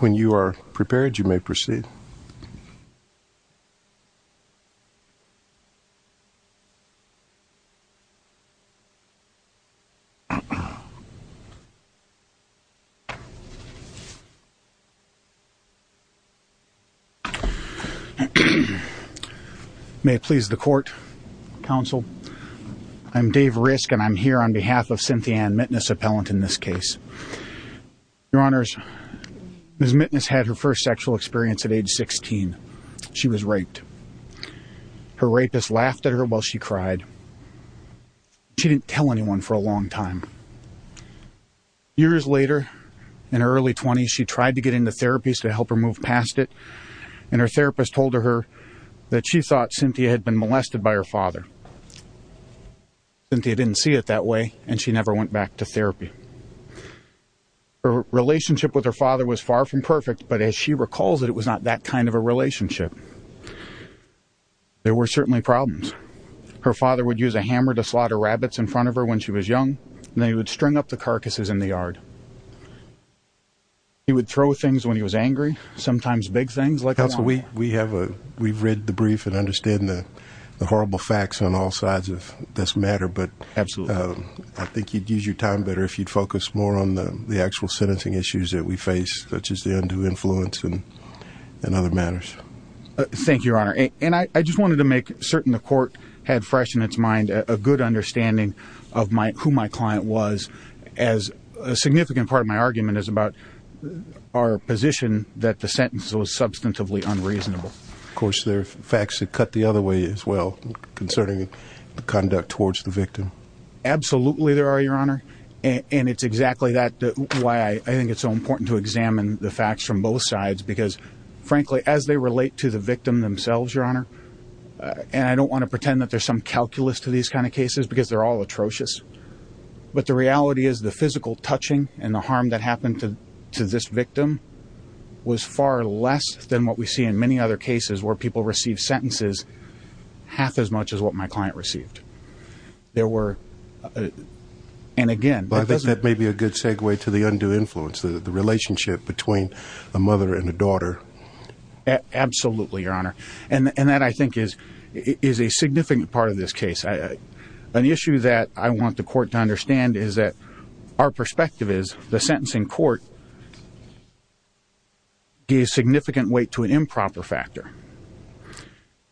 When you are prepared, you may proceed. May it please the court, counsel, I'm Dave Risk and I'm here on behalf of Cynthia Mitteness and I'm a participant in this case. Your honors, Ms. Mitteness had her first sexual experience at age 16. She was raped. Her rapist laughed at her while she cried. She didn't tell anyone for a long time. Years later, in her early 20s, she tried to get into therapies to help her move past it and her therapist told her that she thought Cynthia had been molested by her father. Cynthia didn't see it that way and she never went back to therapy. Her relationship with her father was far from perfect, but as she recalls it, it was not that kind of a relationship. There were certainly problems. Her father would use a hammer to slaughter rabbits in front of her when she was young and then he would string up the carcasses in the yard. He would throw things when he was angry, sometimes big things. Counsel, we've read the brief and understand the horrible facts on all sides of this matter, but I think you'd use your time better if you'd focus more on the actual sentencing issues that we face, such as the undue influence and other matters. Thank you, Your Honor, and I just wanted to make certain the court had fresh in its mind a good understanding of who my client was as a significant part of my argument is about our position that the sentence was substantively unreasonable. Of course, there are facts that cut the other way as well concerning the conduct towards the victim. Absolutely there are, Your Honor, and it's exactly why I think it's so important to examine the facts from both sides because, frankly, as they relate to the victim themselves, Your Honor, and I don't want to pretend that there's some calculus to these kind of cases because they're all atrocious, but the reality is the physical touching and the harm that happened to this victim was far less than what we see in many other cases where people receive sentences half as much as what my client received. There were, and again... I think that may be a good segue to the undue influence, the relationship between a mother and a daughter. Absolutely, Your Honor, and that, I think, is a significant part of this case. An issue that I want the court to understand is that our perspective is the sentencing court gave significant weight to an improper factor.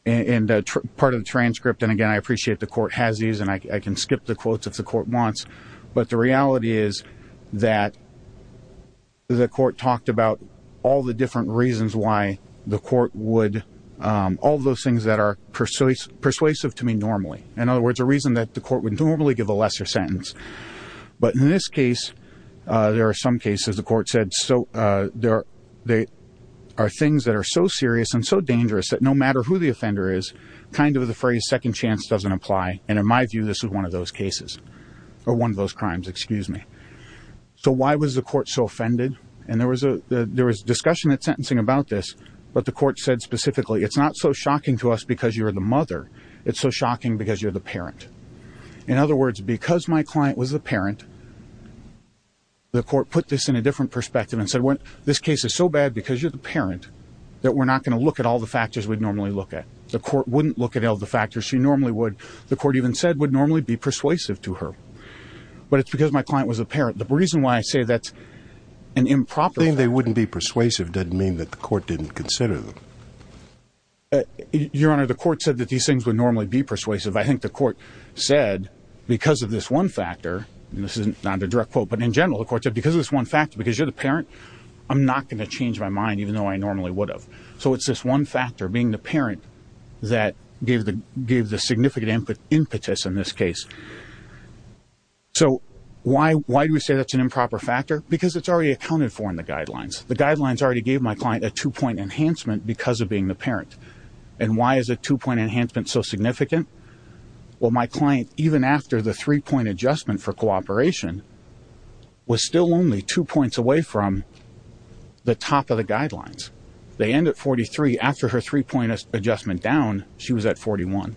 And part of the transcript, and again, I appreciate the court has these, and I can skip the quotes if the court wants, but the reality is that the court talked about all the different reasons why the court would... In other words, a reason that the court would normally give a lesser sentence. But in this case, there are some cases the court said there are things that are so serious and so dangerous that no matter who the offender is, kind of the phrase second chance doesn't apply, and in my view, this is one of those cases, or one of those crimes, excuse me. So why was the court so offended? And there was discussion at sentencing about this, but the court said specifically, it's not so shocking to us because you're the mother. It's so shocking because you're the parent. In other words, because my client was the parent, the court put this in a different perspective and said, well, this case is so bad because you're the parent that we're not going to look at all the factors we'd normally look at. The court wouldn't look at all the factors she normally would. The court even said would normally be persuasive to her. But it's because my client was the parent. The reason why I say that's an improper... It doesn't mean that the court didn't consider them. Your Honor, the court said that these things would normally be persuasive. I think the court said because of this one factor, and this is not a direct quote, but in general the court said because of this one factor, because you're the parent, I'm not going to change my mind even though I normally would have. So it's this one factor, being the parent, that gave the significant impetus in this case. So why do we say that's an improper factor? Because it's already accounted for in the guidelines. The guidelines already gave my client a two-point enhancement because of being the parent. And why is a two-point enhancement so significant? Well, my client, even after the three-point adjustment for cooperation, was still only two points away from the top of the guidelines. They end at 43. After her three-point adjustment down, she was at 41.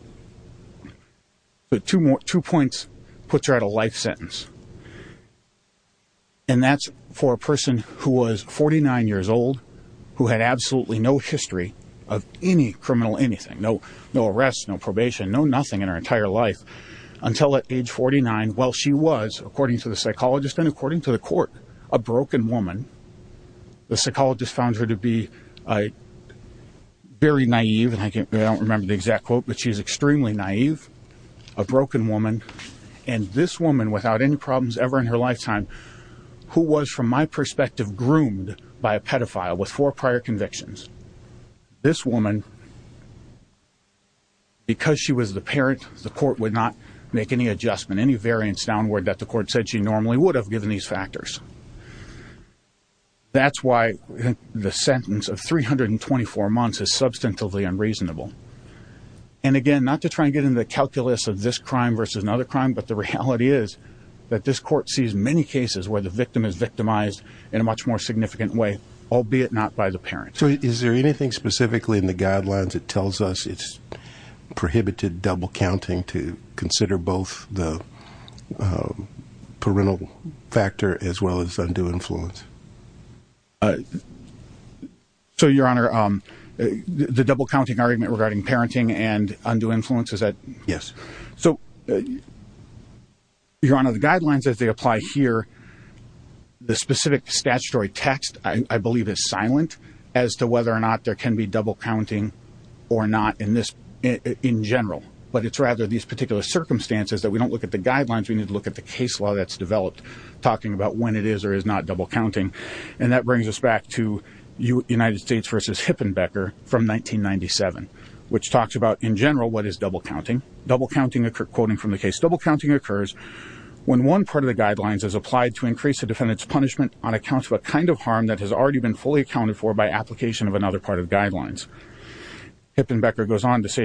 Two points puts her at a life sentence. And that's for a person who was 49 years old, who had absolutely no history of any criminal anything, no arrests, no probation, no nothing in her entire life, until at age 49, while she was, according to the psychologist and according to the court, a broken woman. The psychologist found her to be very naive, and I don't remember the exact quote, but she was extremely naive, a broken woman. And this woman, without any problems ever in her lifetime, who was, from my perspective, groomed by a pedophile with four prior convictions, this woman, because she was the parent, the court would not make any adjustment, any variance downward that the court said she normally would have given these factors. That's why the sentence of 324 months is substantively unreasonable. And, again, not to try and get into the calculus of this crime versus another crime, but the reality is that this court sees many cases where the victim is victimized in a much more significant way, albeit not by the parent. So is there anything specifically in the guidelines that tells us it's prohibited double counting to consider both the parental factor as well as undue influence? So, Your Honor, the double counting argument regarding parenting and undue influence, is that? Yes. So, Your Honor, the guidelines as they apply here, the specific statutory text, I believe, is silent as to whether or not there can be double counting or not in general. But it's rather these particular circumstances that we don't look at the guidelines, talking about when it is or is not double counting. And that brings us back to United States v. Hippenbecker from 1997, which talks about, in general, what is double counting. Double counting, quoting from the case, Hippenbecker goes on to say,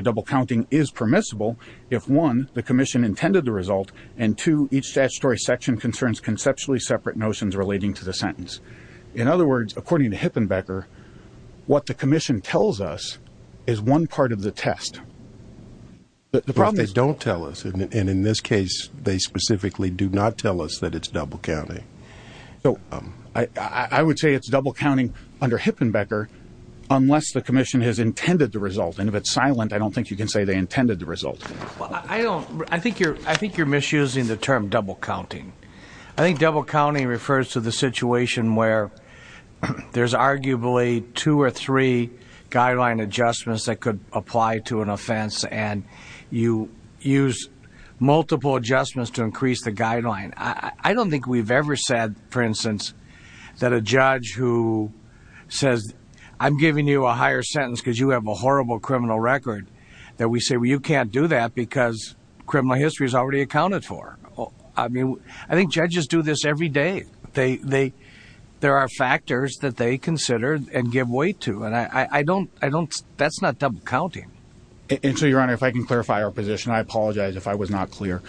In other words, according to Hippenbecker, what the commission tells us is one part of the test. But if they don't tell us, and in this case, they specifically do not tell us that it's double counting. I would say it's double counting under Hippenbecker, unless the commission has intended the result. And if it's silent, I don't think you can say they intended the result. I think you're misusing the term double counting. I think double counting refers to the situation where there's arguably two or three guideline adjustments that could apply to an offense, and you use multiple adjustments to increase the guideline. I don't think we've ever said, for instance, that a judge who says, I'm giving you a higher sentence because you have a horrible criminal record, that we say, well, you can't do that because criminal history is already accounted for. I think judges do this every day. There are factors that they consider and give weight to. And that's not double counting. And so, Your Honor, if I can clarify our position, I apologize if I was not clear.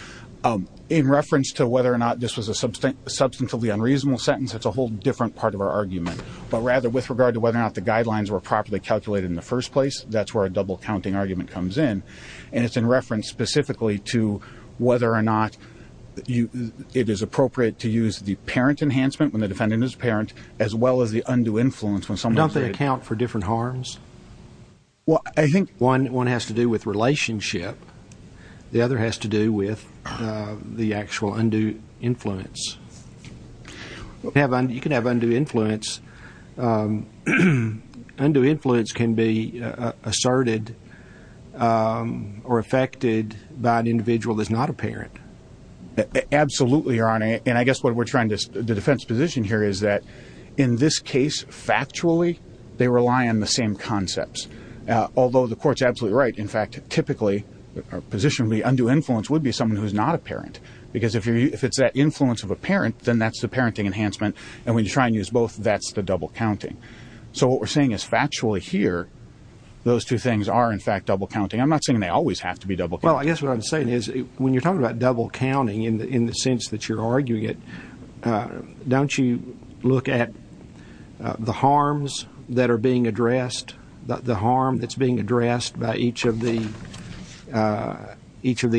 In reference to whether or not this was a substantially unreasonable sentence, that's a whole different part of our argument. But rather, with regard to whether or not the guidelines were properly calculated in the first place, that's where a double counting argument comes in. And it's in reference specifically to whether or not it is appropriate to use the parent enhancement when the defendant is a parent, as well as the undue influence. Don't they account for different harms? Well, I think one has to do with relationship. The other has to do with the actual undue influence. You can have undue influence. Undue influence can be asserted or affected by an individual that's not a parent. Absolutely, Your Honor. And I guess the defense position here is that in this case, factually, they rely on the same concepts. Although the court's absolutely right. In fact, typically, our position would be undue influence would be someone who's not a parent. Because if it's that influence of a parent, then that's the parenting enhancement. And when you try and use both, that's the double counting. So what we're saying is factually here, those two things are, in fact, double counting. I'm not saying they always have to be double counting. Well, I guess what I'm saying is when you're talking about double counting in the sense that you're arguing it, don't you look at the harms that are being addressed, the harm that's being addressed by each of the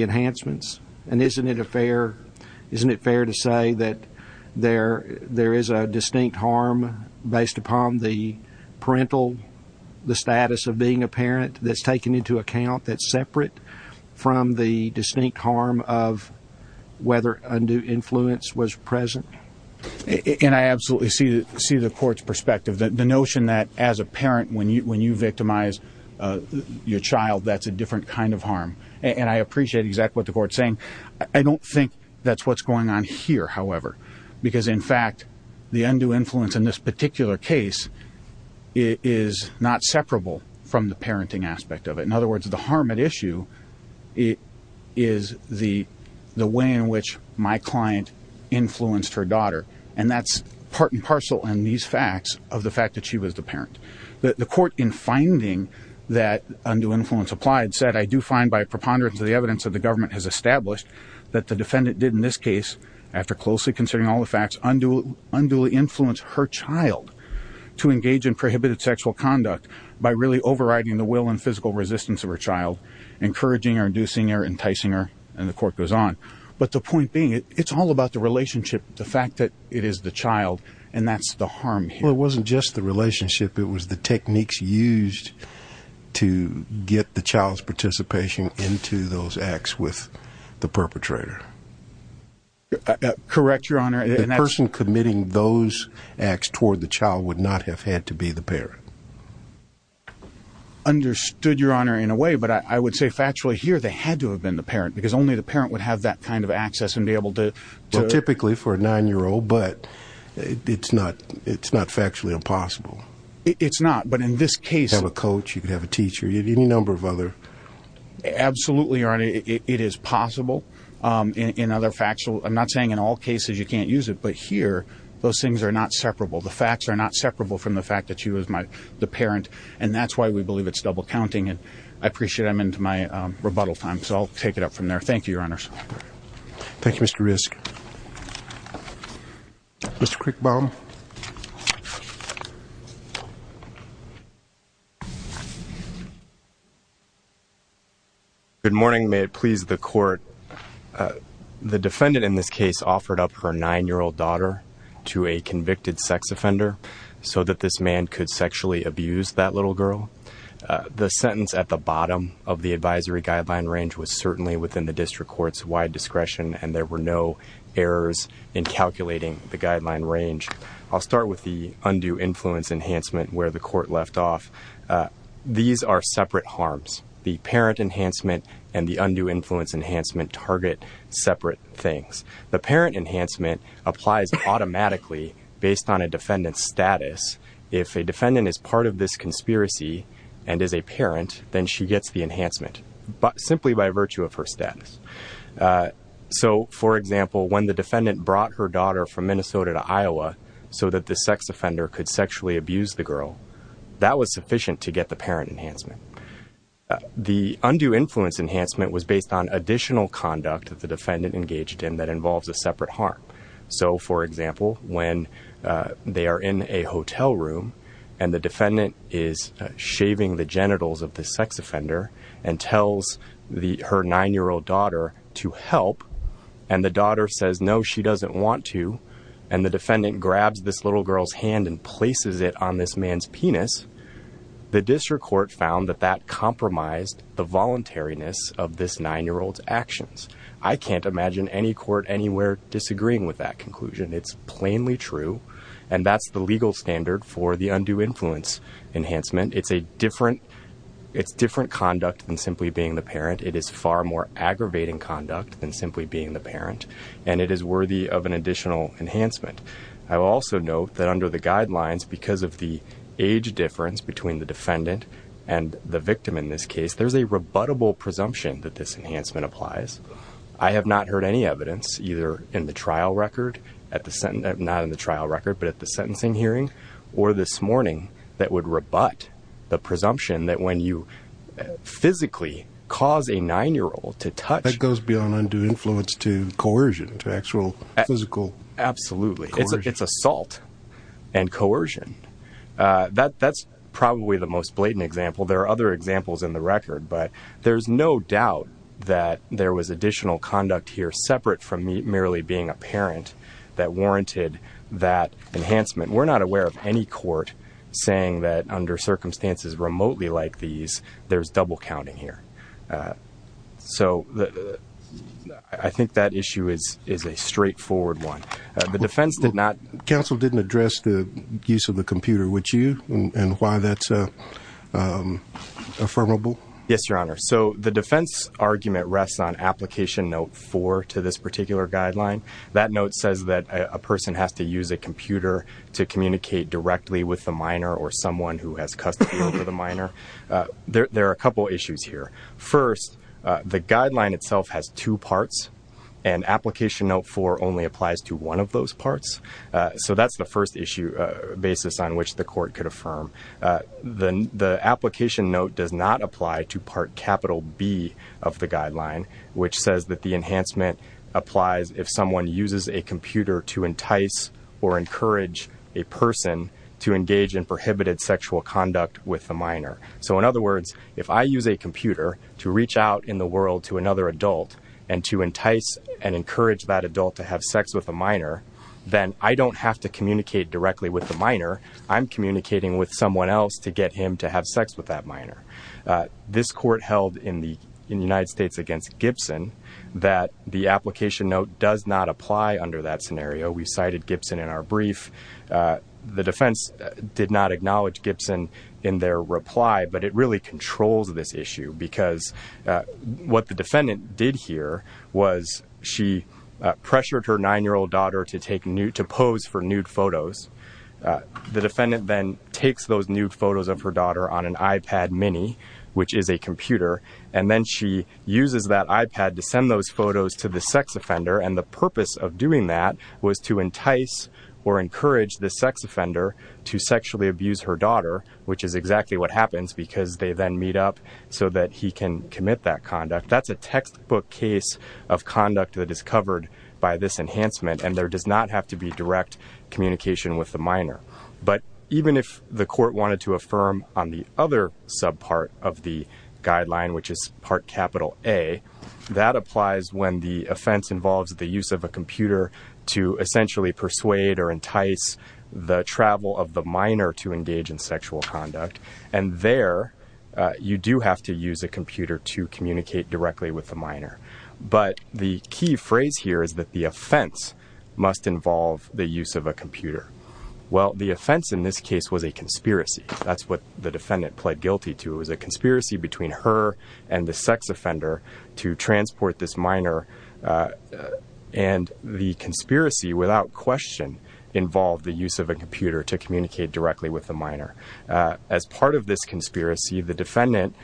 enhancements? And isn't it fair to say that there is a distinct harm based upon the parental status of being a parent that's taken into account that's separate from the distinct harm of whether undue influence was present? And I absolutely see the court's perspective. The notion that as a parent, when you victimize your child, that's a different kind of harm. And I appreciate exactly what the court's saying. I don't think that's what's going on here, however. Because, in fact, the undue influence in this particular case is not separable from the parenting aspect of it. In other words, the harm at issue is the way in which my client influenced her daughter. And that's part and parcel in these facts of the fact that she was the parent. The court, in finding that undue influence applied, said, I do find by preponderance of the evidence that the government has established that the defendant did in this case, after closely considering all the facts, unduly influence her child to engage in prohibited sexual conduct by really overriding the will and physical resistance of her child, encouraging her, inducing her, enticing her. And the court goes on. But the point being, it's all about the relationship, the fact that it is the child, and that's the harm here. Well, it wasn't just the relationship. It was the techniques used to get the child's participation into those acts with the perpetrator. Correct, Your Honor. The person committing those acts toward the child would not have had to be the parent. Understood, Your Honor, in a way. But I would say factually here they had to have been the parent, because only the parent would have that kind of access and be able to do it. But it's not factually impossible. It's not, but in this case. You could have a coach, you could have a teacher, you could have any number of other. Absolutely, Your Honor, it is possible. I'm not saying in all cases you can't use it, but here those things are not separable. The facts are not separable from the fact that she was the parent, and that's why we believe it's double counting. And I appreciate I'm into my rebuttal time, so I'll take it up from there. Thank you, Your Honors. Thank you, Mr. Risk. Mr. Quickbaum. Good morning. May it please the Court. The defendant in this case offered up her 9-year-old daughter to a convicted sex offender so that this man could sexually abuse that little girl. The sentence at the bottom of the advisory guideline range was certainly within the district court's wide discretion, and there were no errors in calculating the guideline range. I'll start with the undue influence enhancement where the court left off. These are separate harms. The parent enhancement and the undue influence enhancement target separate things. The parent enhancement applies automatically based on a defendant's status. If a defendant is part of this conspiracy and is a parent, then she gets the enhancement simply by virtue of her status. So, for example, when the defendant brought her daughter from Minnesota to Iowa so that the sex offender could sexually abuse the girl, that was sufficient to get the parent enhancement. The undue influence enhancement was based on additional conduct that the defendant engaged in that involves a separate harm. So, for example, when they are in a hotel room and the defendant is shaving the genitals of the sex offender and tells her 9-year-old daughter to help, and the daughter says no, she doesn't want to, and the defendant grabs this little girl's hand and places it on this man's penis, the district court found that that compromised the voluntariness of this 9-year-old's actions. I can't imagine any court anywhere disagreeing with that conclusion. It's plainly true, and that's the legal standard for the undue influence enhancement. It's a different conduct than simply being the parent. It is far more aggravating conduct than simply being the parent, and it is worthy of an additional enhancement. I will also note that under the guidelines, because of the age difference between the defendant and the victim in this case, there's a rebuttable presumption that this enhancement applies. I have not heard any evidence, either in the trial record, not in the trial record, but at the sentencing hearing or this morning, that would rebut the presumption that when you physically cause a 9-year-old to touch. That goes beyond undue influence to coercion, to actual physical coercion. Absolutely. It's assault and coercion. That's probably the most blatant example. There are other examples in the record, but there's no doubt that there was additional conduct here, separate from merely being a parent, that warranted that enhancement. We're not aware of any court saying that under circumstances remotely like these, there's double counting here. So I think that issue is a straightforward one. Counsel didn't address the use of the computer, would you, and why that's affirmable? Yes, Your Honor. So the defense argument rests on Application Note 4 to this particular guideline. That note says that a person has to use a computer to communicate directly with the minor or someone who has custody over the minor. There are a couple issues here. First, the guideline itself has two parts, and Application Note 4 only applies to one of those parts. So that's the first issue basis on which the court could affirm. The Application Note does not apply to Part B of the guideline, which says that the enhancement applies if someone uses a computer to entice or encourage a person to engage in prohibited sexual conduct with the minor. So in other words, if I use a computer to reach out in the world to another adult and to entice and encourage that adult to have sex with a minor, then I don't have to communicate directly with the minor. I'm communicating with someone else to get him to have sex with that minor. This court held in the United States against Gibson that the Application Note does not apply under that scenario. We cited Gibson in our brief. The defense did not acknowledge Gibson in their reply, but it really controls this issue because what the defendant did here was she pressured her 9-year-old daughter to pose for nude photos. The defendant then takes those nude photos of her daughter on an iPad Mini, which is a computer, and then she uses that iPad to send those photos to the sex offender, and the purpose of doing that was to entice or encourage the sex offender to sexually abuse her daughter, which is exactly what happens because they then meet up so that he can commit that conduct. That's a textbook case of conduct that is covered by this enhancement, and there does not have to be direct communication with the minor. But even if the court wanted to affirm on the other subpart of the guideline, which is Part A, that applies when the offense involves the use of a computer to essentially persuade or entice the travel of the minor to engage in sexual conduct, and there you do have to use a computer to communicate directly with the minor. But the key phrase here is that the offense must involve the use of a computer. Well, the offense in this case was a conspiracy. That's what the defendant pled guilty to. It was a conspiracy between her and the sex offender to transport this minor, and the conspiracy without question involved the use of a computer to communicate directly with the minor. As part of this conspiracy, the defendant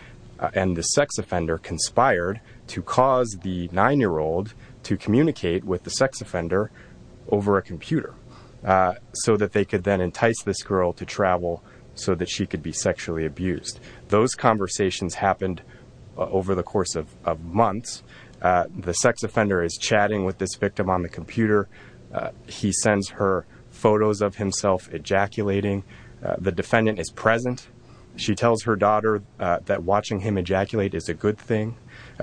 and the sex offender conspired to cause the 9-year-old to communicate with the sex offender over a computer so that they could then entice this girl to travel so that she could be sexually abused. Those conversations happened over the course of months. The sex offender is chatting with this victim on the computer. He sends her photos of himself ejaculating. The defendant is present. She tells her daughter that watching him ejaculate is a good thing.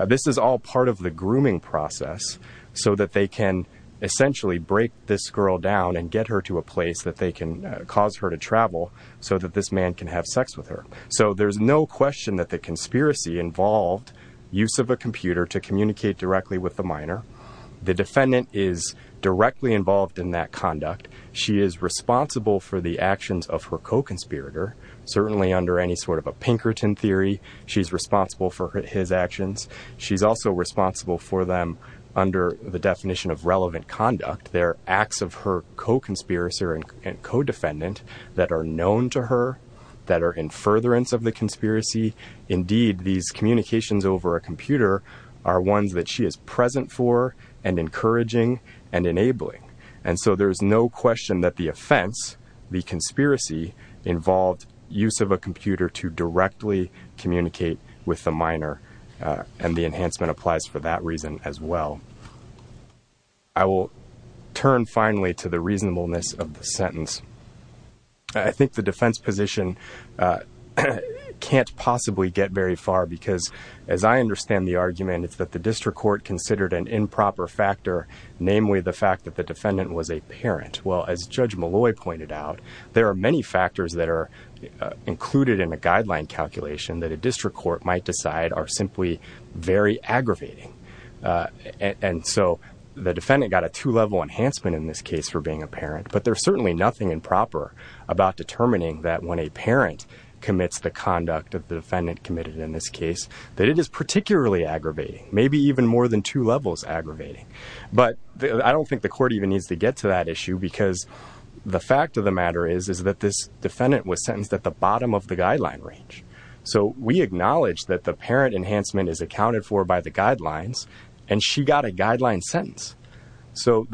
This is all part of the grooming process so that they can essentially break this girl down and get her to a place that they can cause her to travel so that this man can have sex with her. So there's no question that the conspiracy involved use of a computer to communicate directly with the minor. The defendant is directly involved in that conduct. She is responsible for the actions of her co-conspirator. Certainly under any sort of a Pinkerton theory, she's responsible for his actions. She's also responsible for them under the definition of relevant conduct. They're acts of her co-conspirator and co-defendant that are known to her, that are in furtherance of the conspiracy. Indeed, these communications over a computer are ones that she is present for and encouraging and enabling. And so there's no question that the offense, the conspiracy, involved use of a computer to directly communicate with the minor, and the enhancement applies for that reason as well. I will turn finally to the reasonableness of the sentence. I think the defense position can't possibly get very far because, as I understand the argument, it's that the district court considered an improper factor, namely the fact that the defendant was a parent. Well, as Judge Malloy pointed out, there are many factors that are included in a guideline calculation that a district court might decide are simply very aggravating. And so the defendant got a two-level enhancement in this case for being a parent. But there's certainly nothing improper about determining that when a parent commits the conduct of the defendant committed in this case that it is particularly aggravating, maybe even more than two levels aggravating. But I don't think the court even needs to get to that issue because the fact of the matter is, is that this defendant was sentenced at the bottom of the guideline range. So we acknowledge that the parent enhancement is accounted for by the guidelines, and she got a guideline sentence. So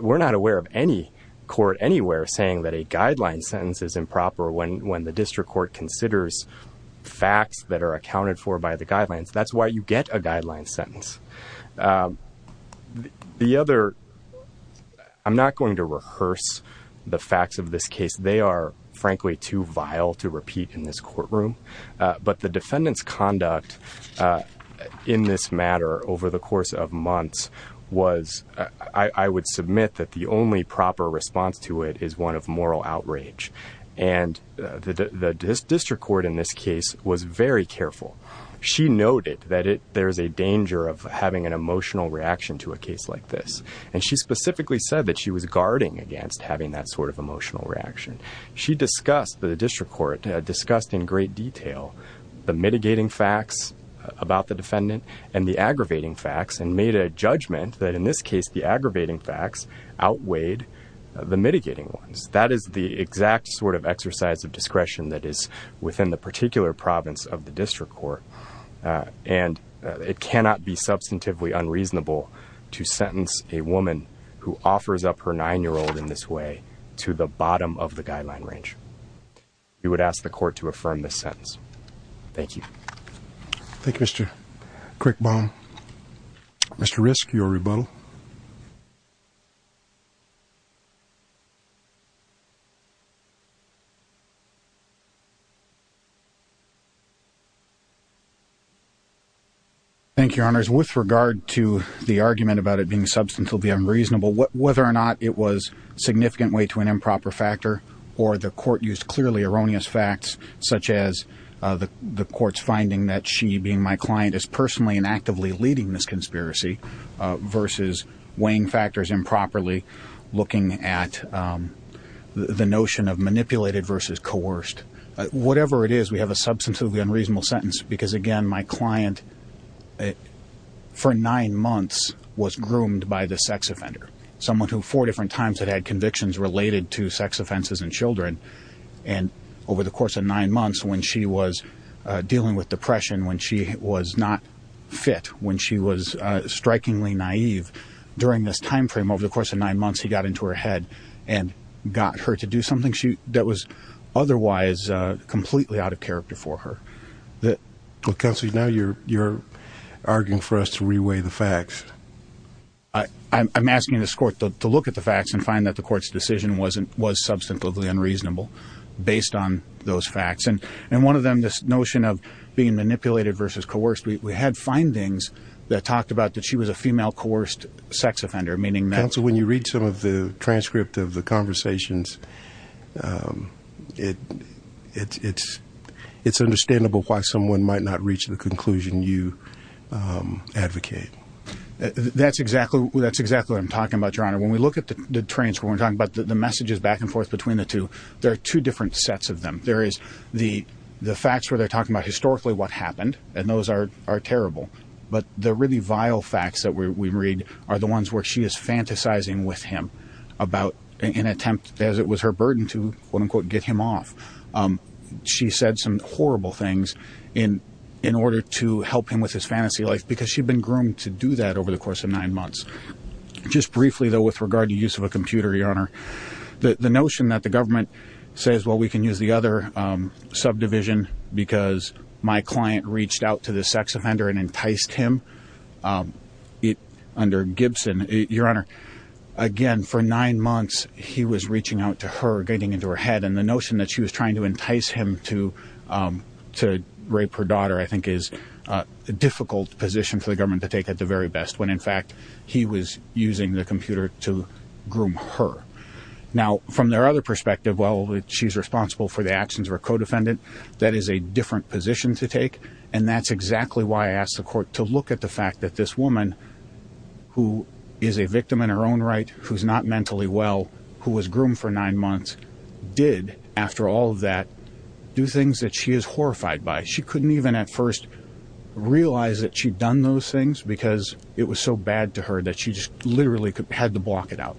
we're not aware of any court anywhere saying that a guideline sentence is improper when the district court considers facts that are accounted for by the guidelines. That's why you get a guideline sentence. The other, I'm not going to rehearse the facts of this case. They are, frankly, too vile to repeat in this courtroom. But the defendant's conduct in this matter over the course of months was, I would submit that the only proper response to it is one of moral outrage. And the district court in this case was very careful. She noted that there's a danger of having an emotional reaction to a case like this. And she specifically said that she was guarding against having that sort of emotional reaction. She discussed, the district court discussed in great detail, the mitigating facts about the defendant and the aggravating facts and made a judgment that in this case the aggravating facts outweighed the mitigating ones. That is the exact sort of exercise of discretion that is within the particular province of the district court. And it cannot be substantively unreasonable to sentence a woman who offers up her 9-year-old in this way to the bottom of the guideline range. We would ask the court to affirm this sentence. Thank you. Thank you, Mr. Quickbaum. Mr. Risk, your rebuttal. Thank you, Your Honors. With regard to the argument about it being substantively unreasonable, whether or not it was significant weight to an improper factor, or the court used clearly erroneous facts such as the court's finding that she, being my client, is personally and actively leading this conspiracy, versus weighing factors improperly, looking at the notion of manipulated versus coerced. Whatever it is, we have a substantively unreasonable sentence because, again, my client for nine months was groomed by the sex offender, someone who four different times had had convictions related to sex offenses in children. And over the course of nine months, when she was dealing with depression, when she was not fit, when she was strikingly naive, during this time frame, over the course of nine months, he got into her head and got her to do something that was otherwise completely out of character for her. Counsel, now you're arguing for us to re-weigh the facts. I'm asking this court to look at the facts and find that the court's decision was substantively unreasonable based on those facts. And one of them, this notion of being manipulated versus coerced, we had findings that talked about that she was a female coerced sex offender, meaning that— Counsel, when you read some of the transcript of the conversations, it's understandable why someone might not reach the conclusion you advocate. That's exactly what I'm talking about, Your Honor. When we look at the transcript, we're talking about the messages back and forth between the two, there are two different sets of them. There is the facts where they're talking about historically what happened, and those are terrible. But the really vile facts that we read are the ones where she is fantasizing with him about an attempt, as it was her burden to, quote-unquote, get him off. She said some horrible things in order to help him with his fantasy life, because she'd been groomed to do that over the course of nine months. Just briefly, though, with regard to use of a computer, Your Honor, the notion that the government says, well, we can use the other subdivision because my client reached out to this sex offender and enticed him under Gibson— Your Honor, again, for nine months, he was reaching out to her, getting into her head, and the notion that she was trying to entice him to rape her daughter, I think, is a difficult position for the government to take at the very best, when, in fact, he was using the computer to groom her. Now, from their other perspective, well, she's responsible for the actions of her co-defendant. That is a different position to take, and that's exactly why I asked the court to look at the fact that this woman, who is a victim in her own right, who's not mentally well, who was groomed for nine months, did, after all of that, do things that she is horrified by. She couldn't even, at first, realize that she'd done those things because it was so bad to her that she just literally had to block it out.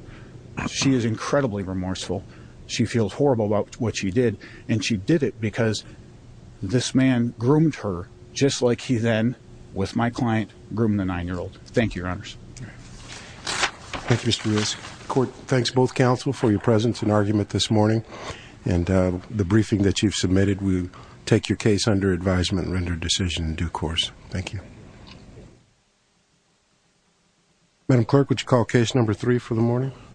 She is incredibly remorseful. She feels horrible about what she did, and she did it because this man groomed her, just like he then, with my client, groomed the nine-year-old. Thank you, Your Honors. Thank you, Mr. Ruiz. Court, thanks both counsel for your presence and argument this morning, and the briefing that you've submitted will take your case under advisement and render a decision in due course. Thank you. Madam Clerk, would you call Case No. 3 for the morning?